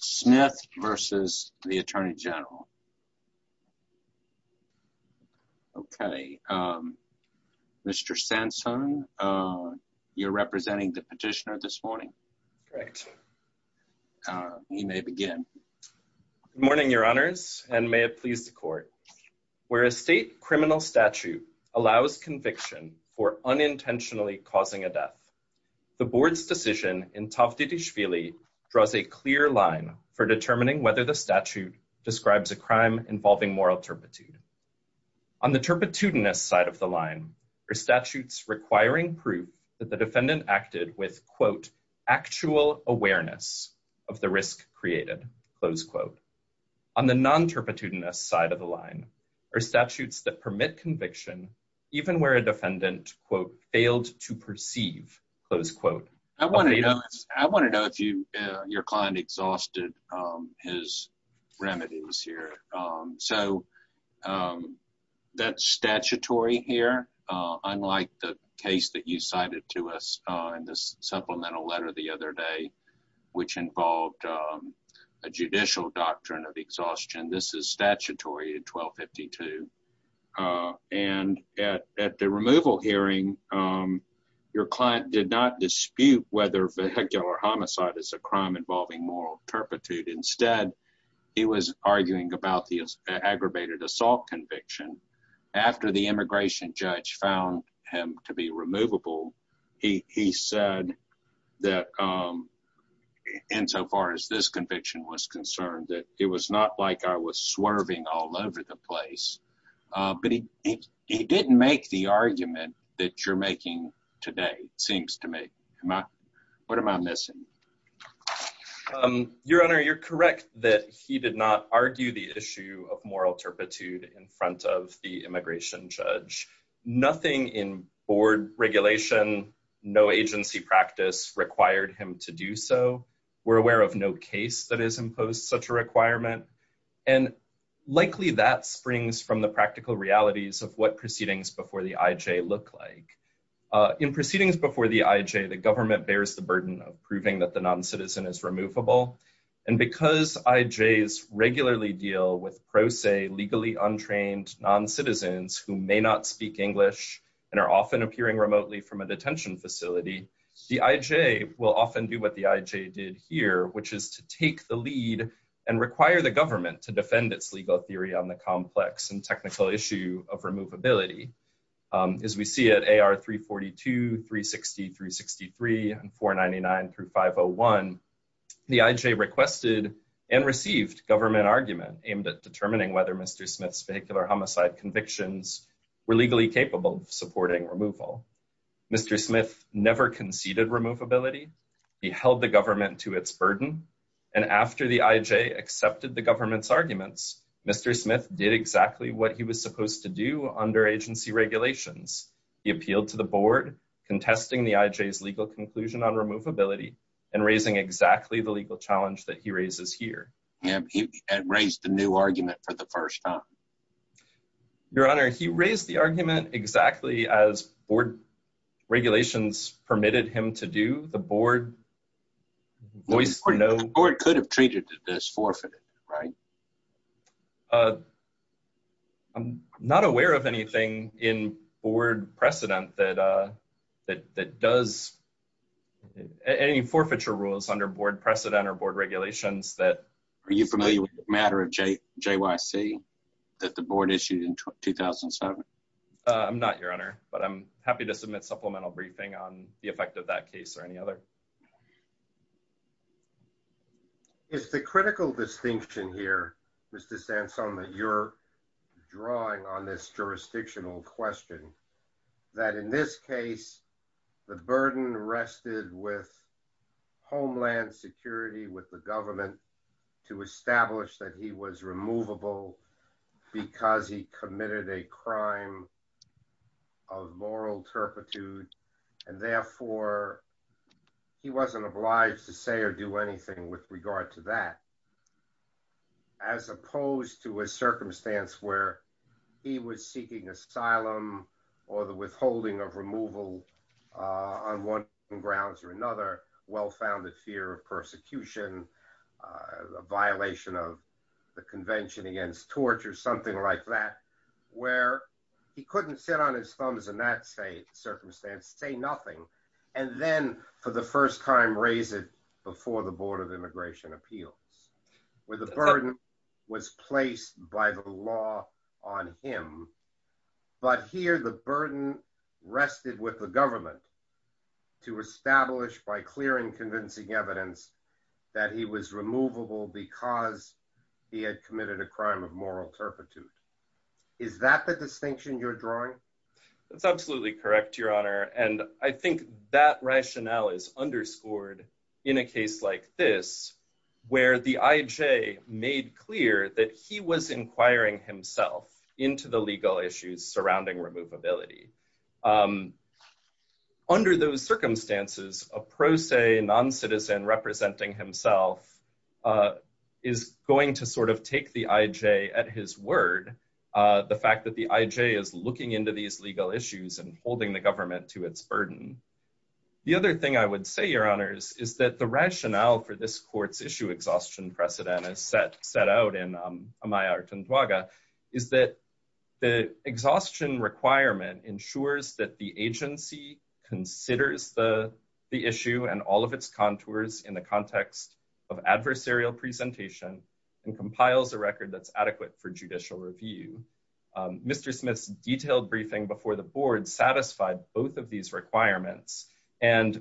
Smith v. U.S. Attorney General Okay, Mr. Sansone, you're representing the petitioner this morning. You may begin. Good morning, your honors, and may it please the court. Where a state criminal statute allows conviction for unintentionally causing a death, the board's decision in Taft for determining whether the statute describes a crime involving moral turpitude. On the turpitudinous side of the line are statutes requiring proof that the defendant acted with, quote, actual awareness of the risk created, close quote. On the non-turpitudinous side of the line are statutes that permit conviction even where a defendant, quote, exhausted his remedies here. So that's statutory here, unlike the case that you cited to us in this supplemental letter the other day, which involved a judicial doctrine of exhaustion. This is statutory in 1252. And at the removal hearing, your client did not dispute whether homicide is a crime involving moral turpitude. Instead, he was arguing about the aggravated assault conviction. After the immigration judge found him to be removable, he said that, insofar as this conviction was concerned, that it was not like I was swerving all over the place. But he didn't make the argument that you're making today, it seems to me. What am I missing? Your Honor, you're correct that he did not argue the issue of moral turpitude in front of the immigration judge. Nothing in board regulation, no agency practice required him to do so. We're from the practical realities of what proceedings before the IJ look like. In proceedings before the IJ, the government bears the burden of proving that the noncitizen is removable. And because IJs regularly deal with pro se, legally untrained noncitizens who may not speak English and are often appearing remotely from a detention facility, the IJ will often do what the IJ did here, which is to take the lead and require the government to defend its legal theory on the complex and technical issue of removability. As we see at AR 342, 360, 363, and 499 through 501, the IJ requested and received government argument aimed at determining whether Mr. Smith's vehicular homicide convictions were legally capable of supporting removal. Mr. Smith never conceded removability. He held the government to its burden. And after the IJ accepted the government's arguments, Mr. Smith did exactly what he was supposed to do under agency regulations. He appealed to the board, contesting the IJ's legal conclusion on removability and raising exactly the legal challenge that he raises here. Yeah, he had raised the new argument for the first time. Your honor, he raised the argument exactly as board regulations permitted him to do. The board could have treated it as forfeited, right? I'm not aware of anything in board precedent that does any forfeiture rules under board precedent or board regulations. Are you familiar with the matter of JYC that the board issued in 2007? I'm not, your honor, but I'm happy to submit supplemental briefing on the effect of that case or any other. Is the critical distinction here, Mr. Sanson, that you're drawing on this jurisdictional question, that in this case, the burden rested with homeland security, with the government to establish that he was removable because he committed a crime of moral turpitude. And therefore, he wasn't obliged to say or do anything with regard to that, as opposed to a circumstance where he was seeking asylum or the withholding of removal on one grounds or another, well-founded fear of persecution, a violation of the convention against torture, something like that, where he couldn't sit on his thumbs in that circumstance, say nothing, and then for the first time raise it before the Board of Immigration Appeals, where the burden was placed by the law on him. But here, the burden rested with the government to establish by clear and convincing evidence that he was removable because he had committed a crime of moral turpitude. Is that the distinction you're drawing? That's absolutely correct, Your Honor. And I think that rationale is underscored in a case like this, where the IJ made clear that he was inquiring himself into the legal issues surrounding removability. Under those circumstances, a pro se non-citizen representing himself is going to sort of take the IJ at his word, the fact that the IJ is looking into these legal issues and holding the government to its burden. The other thing I would say, Your Honors, is that the rationale for this court's issue exhaustion precedent, as set out in Amaya Artunduaga, is that the exhaustion requirement ensures that the agency considers the issue and all of its contours in the context of adversarial presentation and compiles a record that's adequate for judicial review. Mr. Smith's detailed briefing before the board satisfied both of these requirements. And,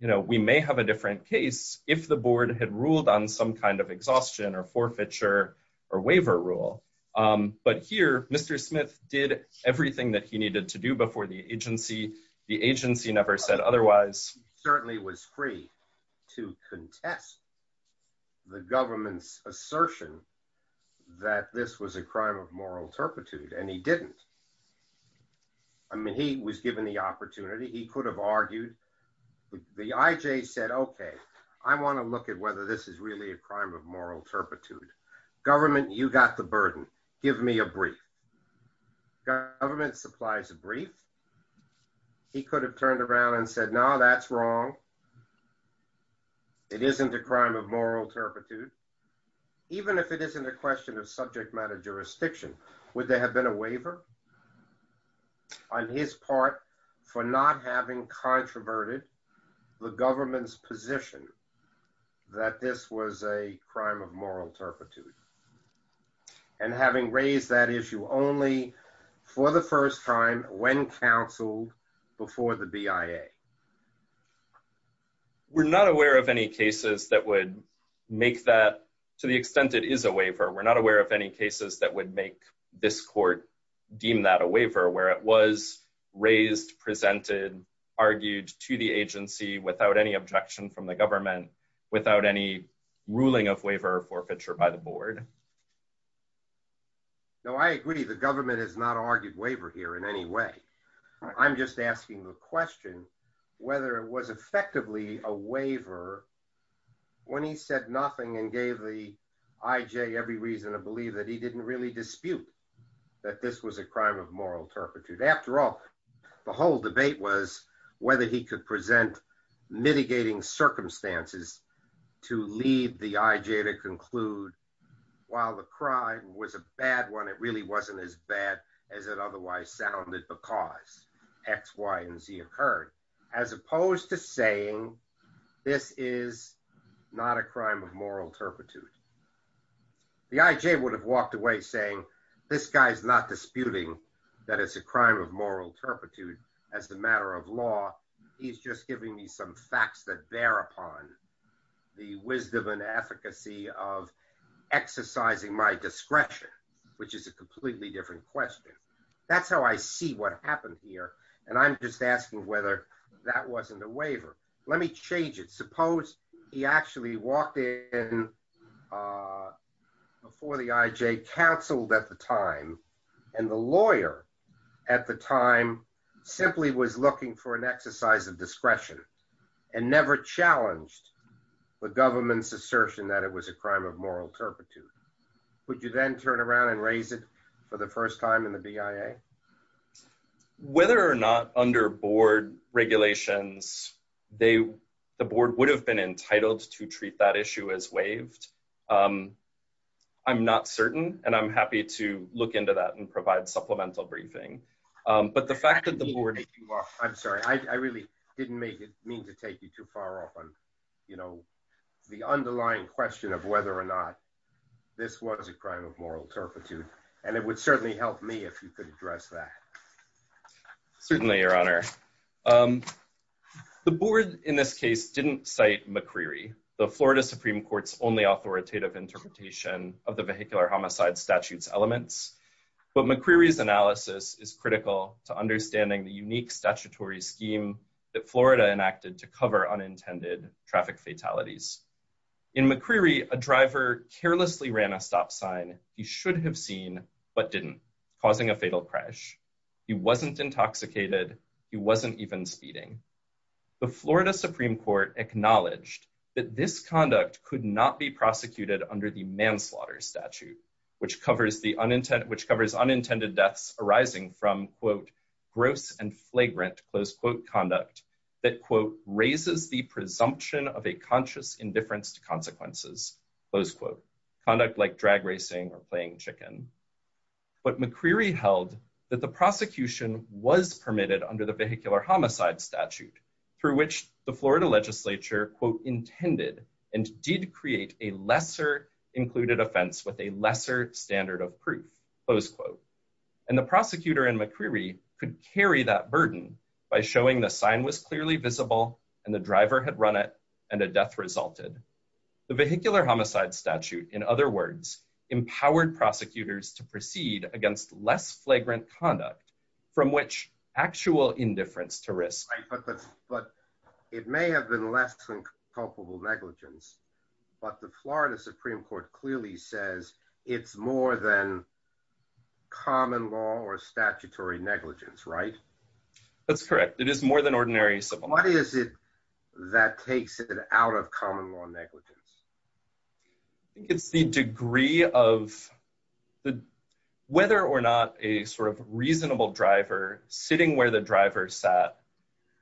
you know, we may have a different case if the board had ruled on some kind of exhaustion or forfeiture or waiver rule. But here, Mr. Smith did everything that he needed to do before the agency. The agency never said otherwise. He certainly was free to contest the government's a crime of moral turpitude, and he didn't. I mean, he was given the opportunity. He could have argued. The IJ said, okay, I want to look at whether this is really a crime of moral turpitude. Government, you got the burden. Give me a brief. Government supplies a brief. He could have turned around and said, no, that's wrong. It isn't a crime of moral turpitude. Even if it isn't a question of subject matter jurisdiction, would there have been a waiver on his part for not having controverted the government's position that this was a crime of moral turpitude? And having raised that issue only for the first time when counseled for the BIA. We're not aware of any cases that would make that to the extent it is a waiver. We're not aware of any cases that would make this court deem that a waiver where it was raised, presented, argued to the agency without any objection from the government, without any ruling of waiver or forfeiture by the board. No, I agree. The government has not argued waiver here in any way. I'm just asking the question whether it was effectively a waiver when he said nothing and gave the IJ every reason to believe that he didn't really dispute that this was a crime of moral turpitude. After all, the whole debate was whether he could present mitigating circumstances to lead the IJ to conclude while the crime was a bad one, it really wasn't as bad as it otherwise sounded because X, Y, and Z occurred, as opposed to saying, this is not a crime of moral turpitude. The IJ would have walked away saying, this guy's not disputing that it's a crime of moral turpitude as a matter of law. He's just giving me some facts that bear upon the wisdom and efficacy of exercising my discretion, which is a completely different question. That's how I see what happened here. And I'm just asking whether that wasn't a waiver. Let me change it. Suppose he actually walked in before the IJ, counseled at the time, and the lawyer at the time simply was looking for an exercise of discretion and never challenged the government's assertion that it was a crime of moral turpitude. Would you then turn around and raise it for the first time in the BIA? Whether or not under board regulations, the board would have been entitled to treat that issue as waived. I'm not certain, and I'm happy to look into that and provide supplemental briefing. But the fact that the board... I'm sorry. I really didn't mean to take you too far off on the underlying question of whether or not this was a crime of moral turpitude. And it would certainly help me if you could address that. Certainly, your honor. The board in this case didn't cite McCreery, the Florida Supreme Court's only authoritative interpretation of the vehicular homicide elements. But McCreery's analysis is critical to understanding the unique statutory scheme that Florida enacted to cover unintended traffic fatalities. In McCreery, a driver carelessly ran a stop sign he should have seen but didn't, causing a fatal crash. He wasn't intoxicated. He wasn't even speeding. The Florida Supreme Court acknowledged that this conduct could not be prosecuted under the which covers unintended deaths arising from, quote, gross and flagrant, close quote, conduct that, quote, raises the presumption of a conscious indifference to consequences, close quote, conduct like drag racing or playing chicken. But McCreery held that the prosecution was permitted under the vehicular homicide statute, through which the Florida legislature, quote, intended and did create a lesser included offense with a lesser standard of proof, close quote. And the prosecutor in McCreery could carry that burden by showing the sign was clearly visible and the driver had run it and a death resulted. The vehicular homicide statute, in other words, empowered prosecutors to proceed against less flagrant conduct from which actual indifference to risk. But it may have been less than culpable negligence, but the Florida Supreme Court clearly says it's more than common law or statutory negligence, right? That's correct. It is more than ordinary civil. What is it that takes it out of common law negligence? I think it's the degree of whether or not a sort of reasonable driver sitting where the driver sat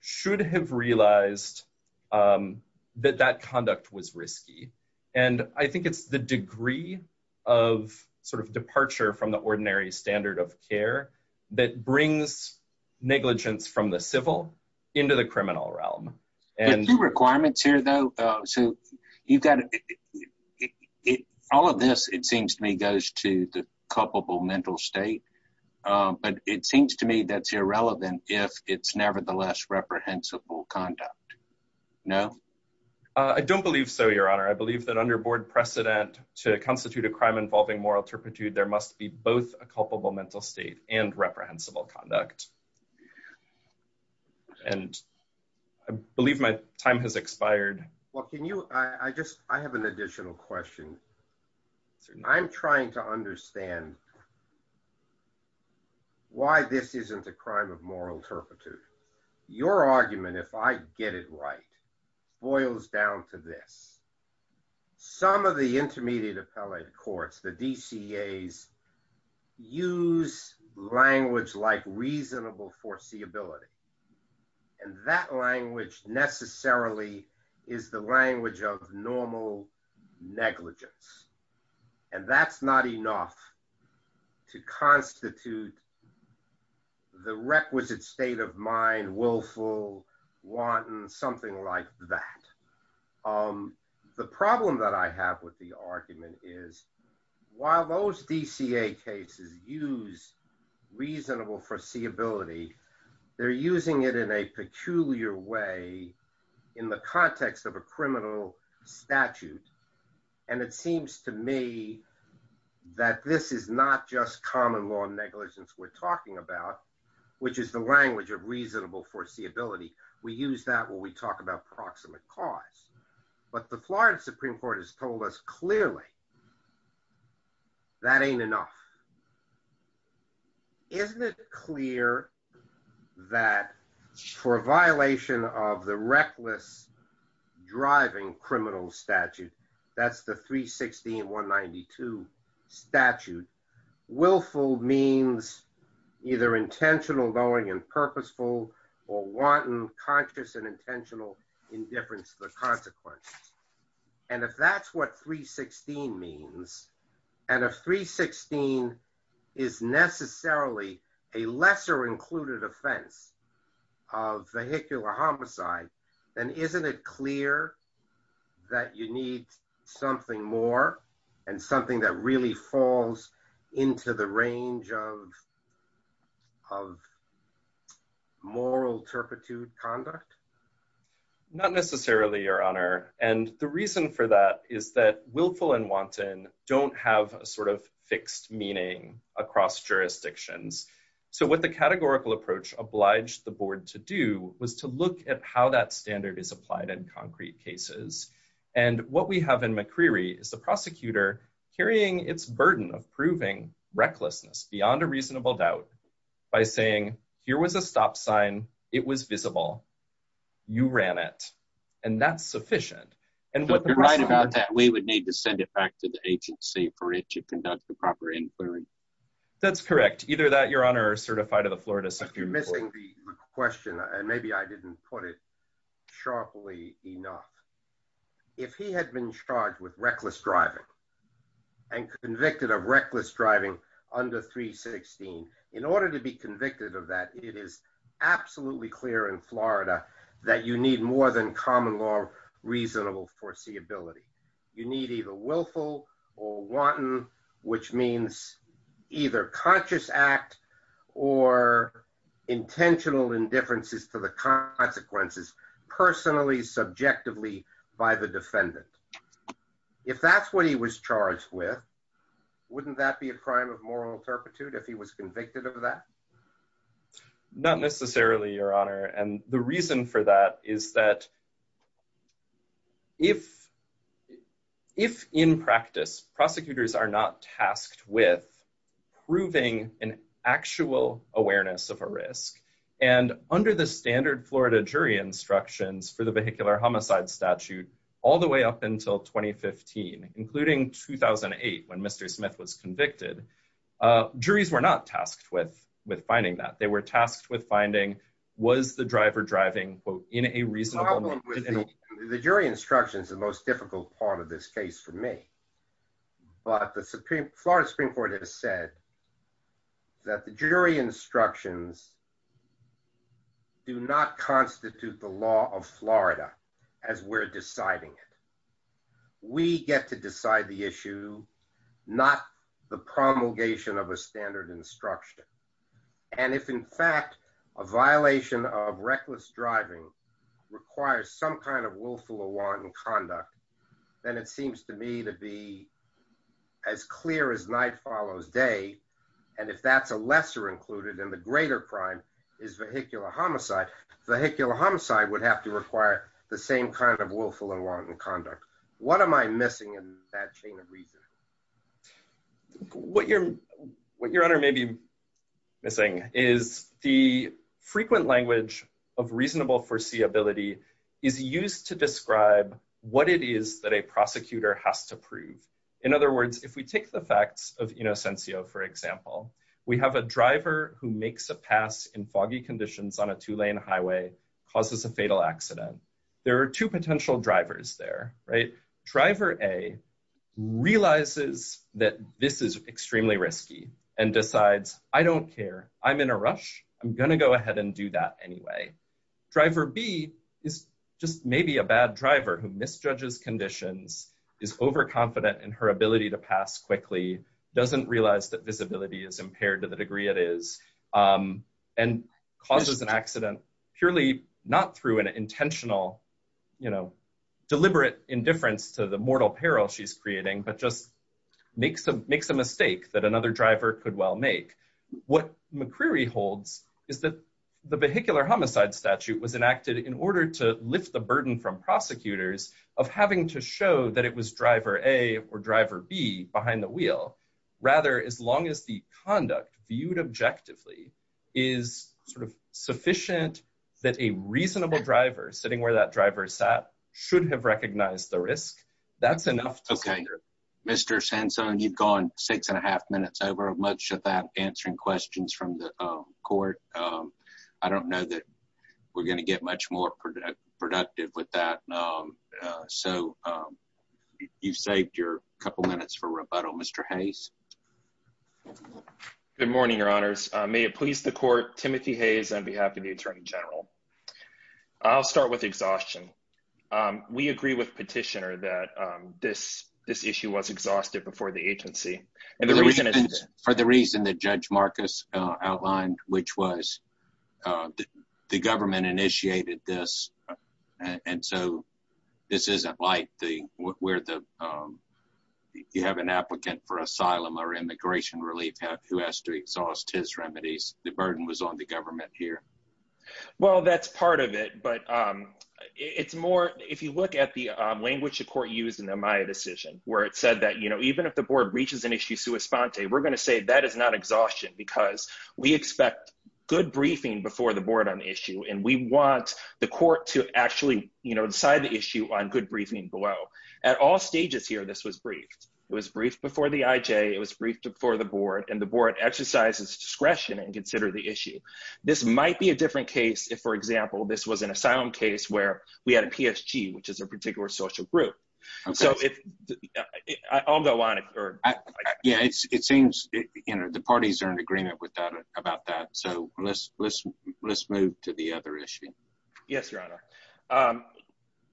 should have realized that that conduct was risky. And I think it's the degree of sort of departure from the ordinary standard of care that brings negligence from the civil into the criminal realm. There are a few requirements here, though. So you've got, all of this, it seems to me, goes to the culpable mental state. But it seems to me that's irrelevant if it's nevertheless reprehensible conduct. No? I don't believe so, Your Honor. I believe that under board precedent to constitute a crime involving moral turpitude, there must be both a culpable mental state and reprehensible conduct. And I believe my time has expired. Well, can you, I just, I have an additional question. Certainly. I'm trying to understand why this isn't a crime of moral turpitude. Your argument, if I get it right, boils down to this. Some of the intermediate appellate courts, the DCAs, use language like reasonable foreseeability. And that language necessarily is the language of normal negligence. And that's not enough to constitute the requisite state of mind, willful, wanton, something like that. The problem that I have with the argument is, while those DCA cases use reasonable foreseeability, they're using it in a peculiar way in the context of a criminal statute. And it seems to me that this is not just common law negligence we're talking about, which is the language of reasonable foreseeability. We use that when we talk about proximate cause. But the Florida Supreme Court has told us clearly that ain't enough. Now, isn't it clear that for a violation of the reckless driving criminal statute, that's the 316.192 statute, willful means either intentional, knowing, and purposeful, or wanton, conscious, and intentional, indifference to the consequences. And if that's what 316 means, and if 316 is necessarily a lesser included offense of vehicular homicide, then isn't it clear that you need something more, and something that really falls into the range of moral turpitude conduct? Not necessarily, Your Honor. And the reason for that is that willful and wanton don't have a sort of fixed meaning across jurisdictions. So what the categorical approach obliged the board to do was to look at how that standard is applied in concrete cases. And what we have in McCreary is the prosecutor carrying its burden of proving recklessness beyond a reasonable doubt by saying, here was a stop sign, it was visible. You ran it. And that's sufficient. But you're right about that. We would need to send it back to the agency for it to conduct the proper inquiry. That's correct. Either that, Your Honor, or certify to the Florida Supreme Court. You're missing the question, and maybe I didn't put it sharply enough. If he had been charged with reckless driving, and convicted of reckless driving under 316, in order to be convicted of that, it is absolutely clear in Florida that you need more than common law reasonable foreseeability. You need either willful or wanton, which means either conscious act or intentional indifferences to the consequences, personally, subjectively, by the defendant. If that's what he was charged with, wouldn't that be a crime of moral turpitude if he was convicted of that? Not necessarily, Your Honor. And the reason for that is that if in practice prosecutors are not tasked with proving an actual awareness of a risk, and under the standard Florida jury instructions for the vehicular homicide statute, all the way up until 2015, including 2008, when Mr. Smith was convicted, juries were not tasked with finding that. They were tasked with finding, was the driver driving, quote, in a reasonable- The problem with the jury instructions is the most difficult part of this case for me. But the Florida Supreme Court has said that the jury instructions do not constitute the law of Florida as we're deciding it. We get to decide the issue, not the promulgation of a standard instruction. And if, in fact, a violation of reckless driving requires some kind of willful or wanton conduct, then it seems to me to be as clear as night follows day. And if that's a lesser included and the greater crime is vehicular homicide, vehicular homicide would have to require the same kind of willful and wanton conduct. What am I missing in that chain of reasoning? What your honor may be missing is the frequent language of reasonable foreseeability is used to describe what it is that a prosecutor has to prove. In other words, if we take the facts of Innocencio, for example, we have a driver who makes a pass in foggy conditions on a two-lane highway, causes a fatal accident. There are two potential drivers there, right? Driver A realizes that this is extremely risky and decides, I don't care, I'm in a rush, I'm going to go ahead and do that anyway. Driver B is just maybe a bad driver who misjudges conditions, is overconfident in her ability to pass quickly, doesn't realize that visibility is impaired to the degree it is, and causes an accident purely not through an intentional, you know, deliberate indifference to the mortal peril she's creating, but just makes a mistake that another driver could well make. What McCreary holds is that the vehicular homicide statute was enacted in order to lift the burden from prosecutors of having to show that it was driver A or driver B behind the wheel. Rather, as long as the conduct viewed objectively is sort of sufficient that a reasonable driver sitting where that driver sat should have recognized the risk, that's enough. Okay. Mr. Sansone, you've gone six and a half minutes over, much of that answering questions from the court. I don't know that we're going to get much more productive with that. So you've saved your couple minutes for rebuttal. Mr. Hayes. Good morning, your honors. May it please the court, Timothy Hayes on behalf of the attorney general. I'll start with exhaustion. We agree with petitioner that this issue was exhausted before the agency. And the reason is for the reason that Judge Marcus outlined, which was the government initiated this. And so this isn't like where you have an applicant for asylum or immigration relief who has to exhaust his remedies. The burden was on the government here. Well, that's part of it. But it's more, if you look at the language the court used in the Maya decision, where it said that even if the board reaches an issue sui sponte, we're going to say that is not exhaustion because we expect good briefing before the board on the issue. And we want the court to actually decide the issue on good briefing below. At all stages here, this was briefed. It was briefed before the IJ. It was briefed before the board. And the board exercises discretion and consider the issue. This might be a different case if, for example, this was an asylum case where we had a PSG, which is a particular social group. So I'll go on. Yeah, it seems the parties are in agreement about that. So let's move to the other issue. Yes, Your Honor.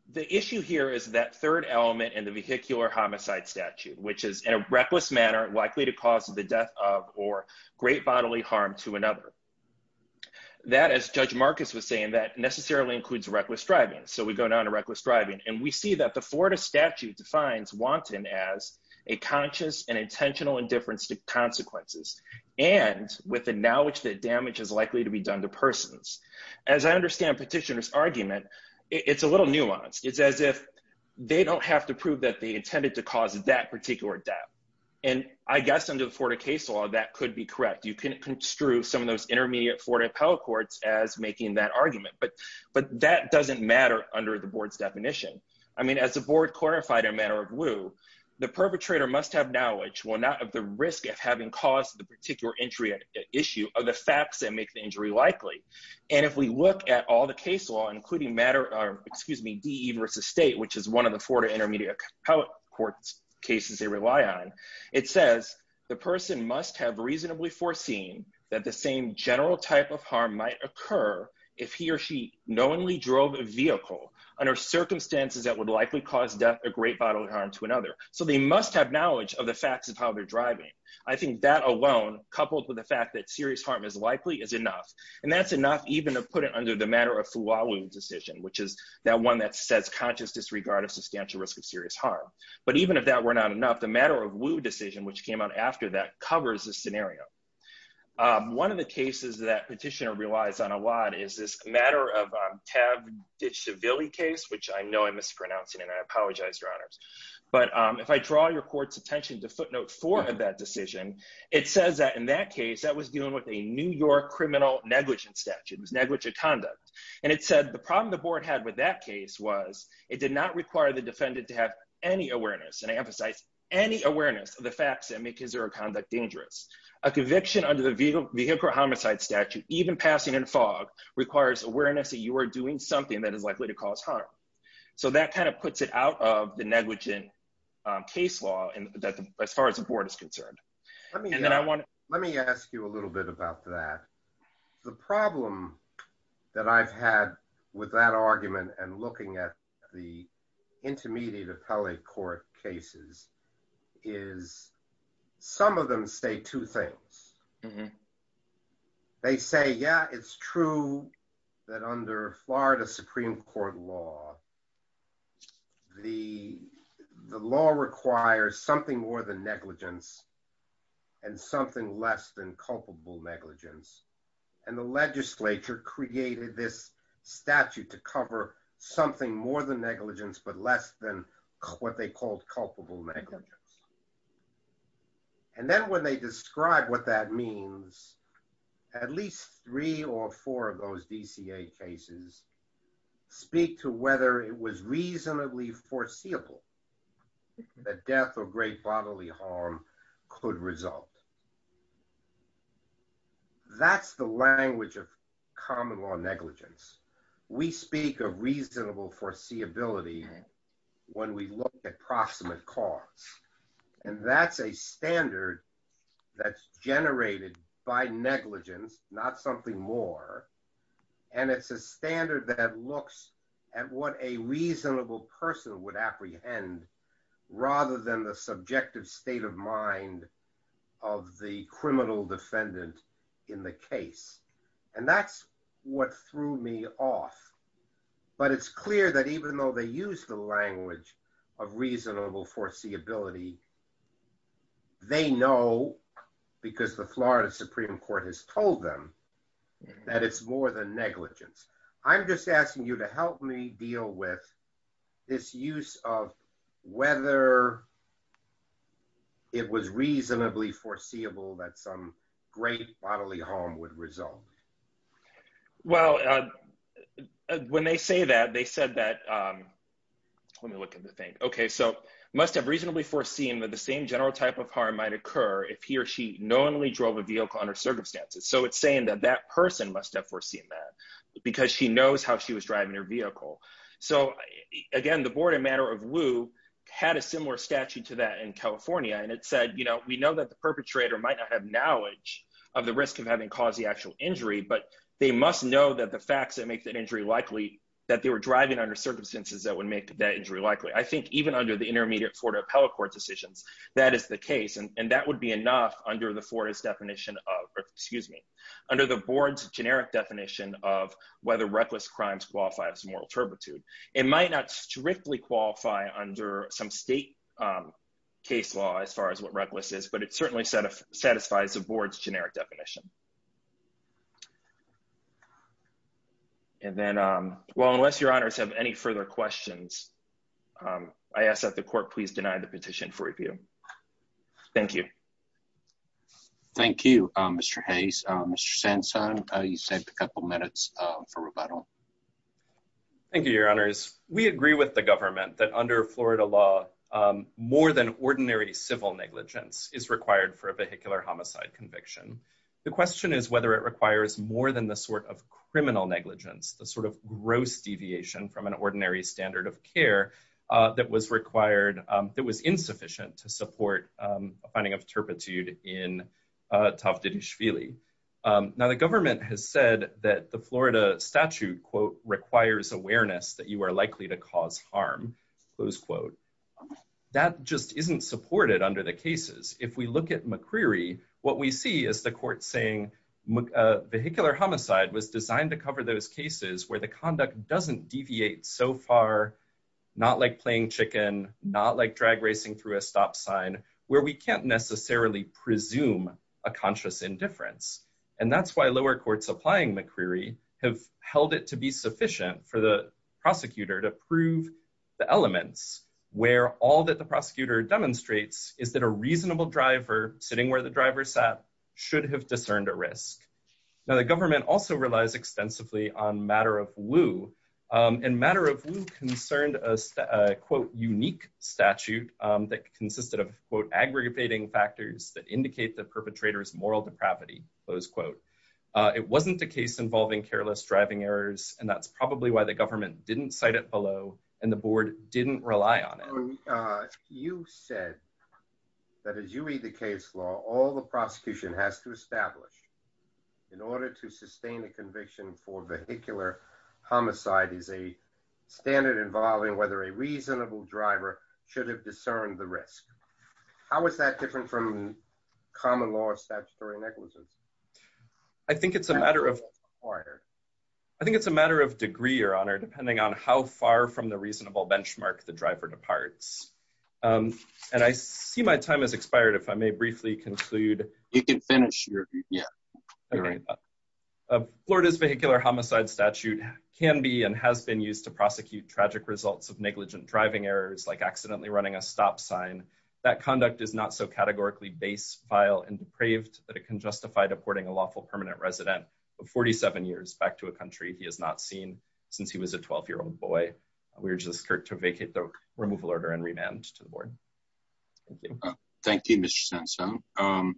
The issue here is that third element in the vehicular homicide statute, which is in a reckless manner likely to cause the death of or great bodily harm to another. That, as Judge Marcus was saying, that necessarily includes reckless driving. So we go down to reckless driving. And we see that the Florida statute defines wanton as a conscious and intentional indifference to consequences. And with the knowledge that damage is likely to be done to persons. As I understand petitioner's argument, it's a little nuanced. It's as if they don't have to prove that they intended to cause that particular death. And I guess under the Florida case law, that could be correct. You can construe some of those intermediate Florida appellate courts as making that argument. But that doesn't matter under the board's definition. I mean, as the board clarified in a matter of lieu, the perpetrator must have knowledge, well, not of the risk of having caused the particular injury issue of the facts that make the injury likely. And if we look at all the case law, including matter, excuse me, D versus state, which is one of the Florida intermediate court cases they rely on. It says the person must have reasonably foreseen that the same general type of harm might occur if he or she knowingly drove a vehicle under circumstances that would likely cause death, a great bottle of harm to another. So they must have knowledge of the facts of how they're driving. I think that alone, coupled with the fact that serious harm is likely is enough. And that's enough even to put it under the matter of flaw decision, which is that one that says conscious disregard of substantial risk of serious harm. But even if that were not enough, the matter of lieu decision, which came out after that covers the scenario. One of the cases that petitioner relies on a lot is this matter of ditch civilly case, which I know I'm mispronouncing and I apologize, your honors. But if I draw your court's attention to footnote four of that decision, it says that in that case that was dealing with a New York criminal negligence statute, it was negligent conduct. And it said the problem the board had with that case was it did not require the defendant to have any awareness. And I emphasize any awareness of the facts that make his or her conduct dangerous. A conviction under the vehicle homicide statute, even passing in fog, requires awareness that you are doing something that is likely to cause harm. So that kind of puts it out of the negligent case law as far as the board is concerned. Let me ask you a little bit about that. The problem that I've had with that argument and looking at the intermediate appellate court cases is some of them say two things. They say, yeah, it's true that under Florida Supreme Court law, the law requires something more than negligence and something less than culpable negligence. And the legislature created this statute to cover something more than negligence, but less than what they called culpable negligence. And then when they describe what that means, at least three or four of those DCA cases speak to whether it was reasonably foreseeable that death or great bodily harm could result. That's the language of common law negligence. We speak of reasonable foreseeability when we look at proximate cause. And that's a standard that's generated by negligence, not something more. And it's a standard that looks at what a reasonable person would apprehend rather than the subjective state of mind of the criminal defendant in the case. And that's what threw me off. But it's clear that even though they use the language of reasonable foreseeability, they know because the Florida Supreme Court has told them that it's more than negligence. I'm just asking you to help me deal with this use of whether it was reasonably foreseeable that some great bodily harm would result. Well, when they say that, they said that, let me look at the thing. Okay, so must have reasonably foreseen that the same general type of harm might occur if he or she knowingly drove a vehicle under circumstances. So it's saying that that person must have foreseen that because she knows how she was driving her vehicle. So again, the Board of Matter of Wu had a similar statute to that in California. And it said, you know, we know that the perpetrator might not have knowledge of the risk of having caused the actual injury. But they must know that the facts that make that injury likely, that they were driving under circumstances that would make that injury likely. I think even under the intermediate Florida appellate court decisions, that is the case. And that would be enough under the Florida's definition of, excuse me, under the board's generic definition of whether reckless crimes qualify as moral turpitude. It might not strictly qualify under some state case law as far as what reckless is, but it certainly satisfies the board's generic definition. And then, well, unless your honors have any further questions, I ask that the court please deny the petition for review. Thank you. Thank you, Mr. Hayes. Mr. Sansone, you saved a couple minutes for rebuttal. Thank you, your honors. We agree with the government that under Florida law, more than ordinary civil negligence is required for a vehicular homicide conviction. The question is whether it requires more than the sort of criminal negligence, the sort of gross deviation from an ordinary standard of care that was required, that was insufficient to support a finding of turpitude in Tov Didi-Shvili. Now, the government has said that the Florida statute, quote, requires awareness that you are likely to cause harm, close quote. That just isn't supported under the cases. If we look at McCreery, what we see is the court saying vehicular homicide was designed to cover those cases where the conduct doesn't deviate so far, not like playing chicken, not like drag racing through a stop sign, where we can't necessarily presume a conscious indifference. And that's why lower courts applying McCreery have held it to be sufficient for the prosecutor to prove the elements where all that the prosecutor demonstrates is that a reasonable driver sitting where the driver sat should have discerned a risk. Now, the government also relies extensively on Matter of Woo, and Matter of Woo concerned a, quote, unique statute that consisted of, quote, aggravating factors that indicate the perpetrator's moral depravity, close quote. It wasn't a case involving careless driving errors, and that's probably why the government didn't cite it below and the board didn't rely on it. So you said that as you read the case law, all the prosecution has to establish in order to sustain the conviction for vehicular homicide is a standard involving whether a reasonable driver should have discerned the risk. How is that different from common law statutory negligence? I think it's a matter of order. I think it's a matter of degree, Your Honor, depending on how far from the reasonable benchmark the driver departs. And I see my time has expired if I may briefly conclude. You can finish your, yeah. Florida's vehicular homicide statute can be and has been used to prosecute tragic results of negligent driving errors, like accidentally running a stop sign. That conduct is not so categorically base, vile, and depraved that it can justify deporting a lawful permanent resident of 47 years back to a country he has not seen since he was a 12-year-old boy. We urge this court to vacate the removal order and remand to the board. Thank you. Thank you, Mr. Sansone.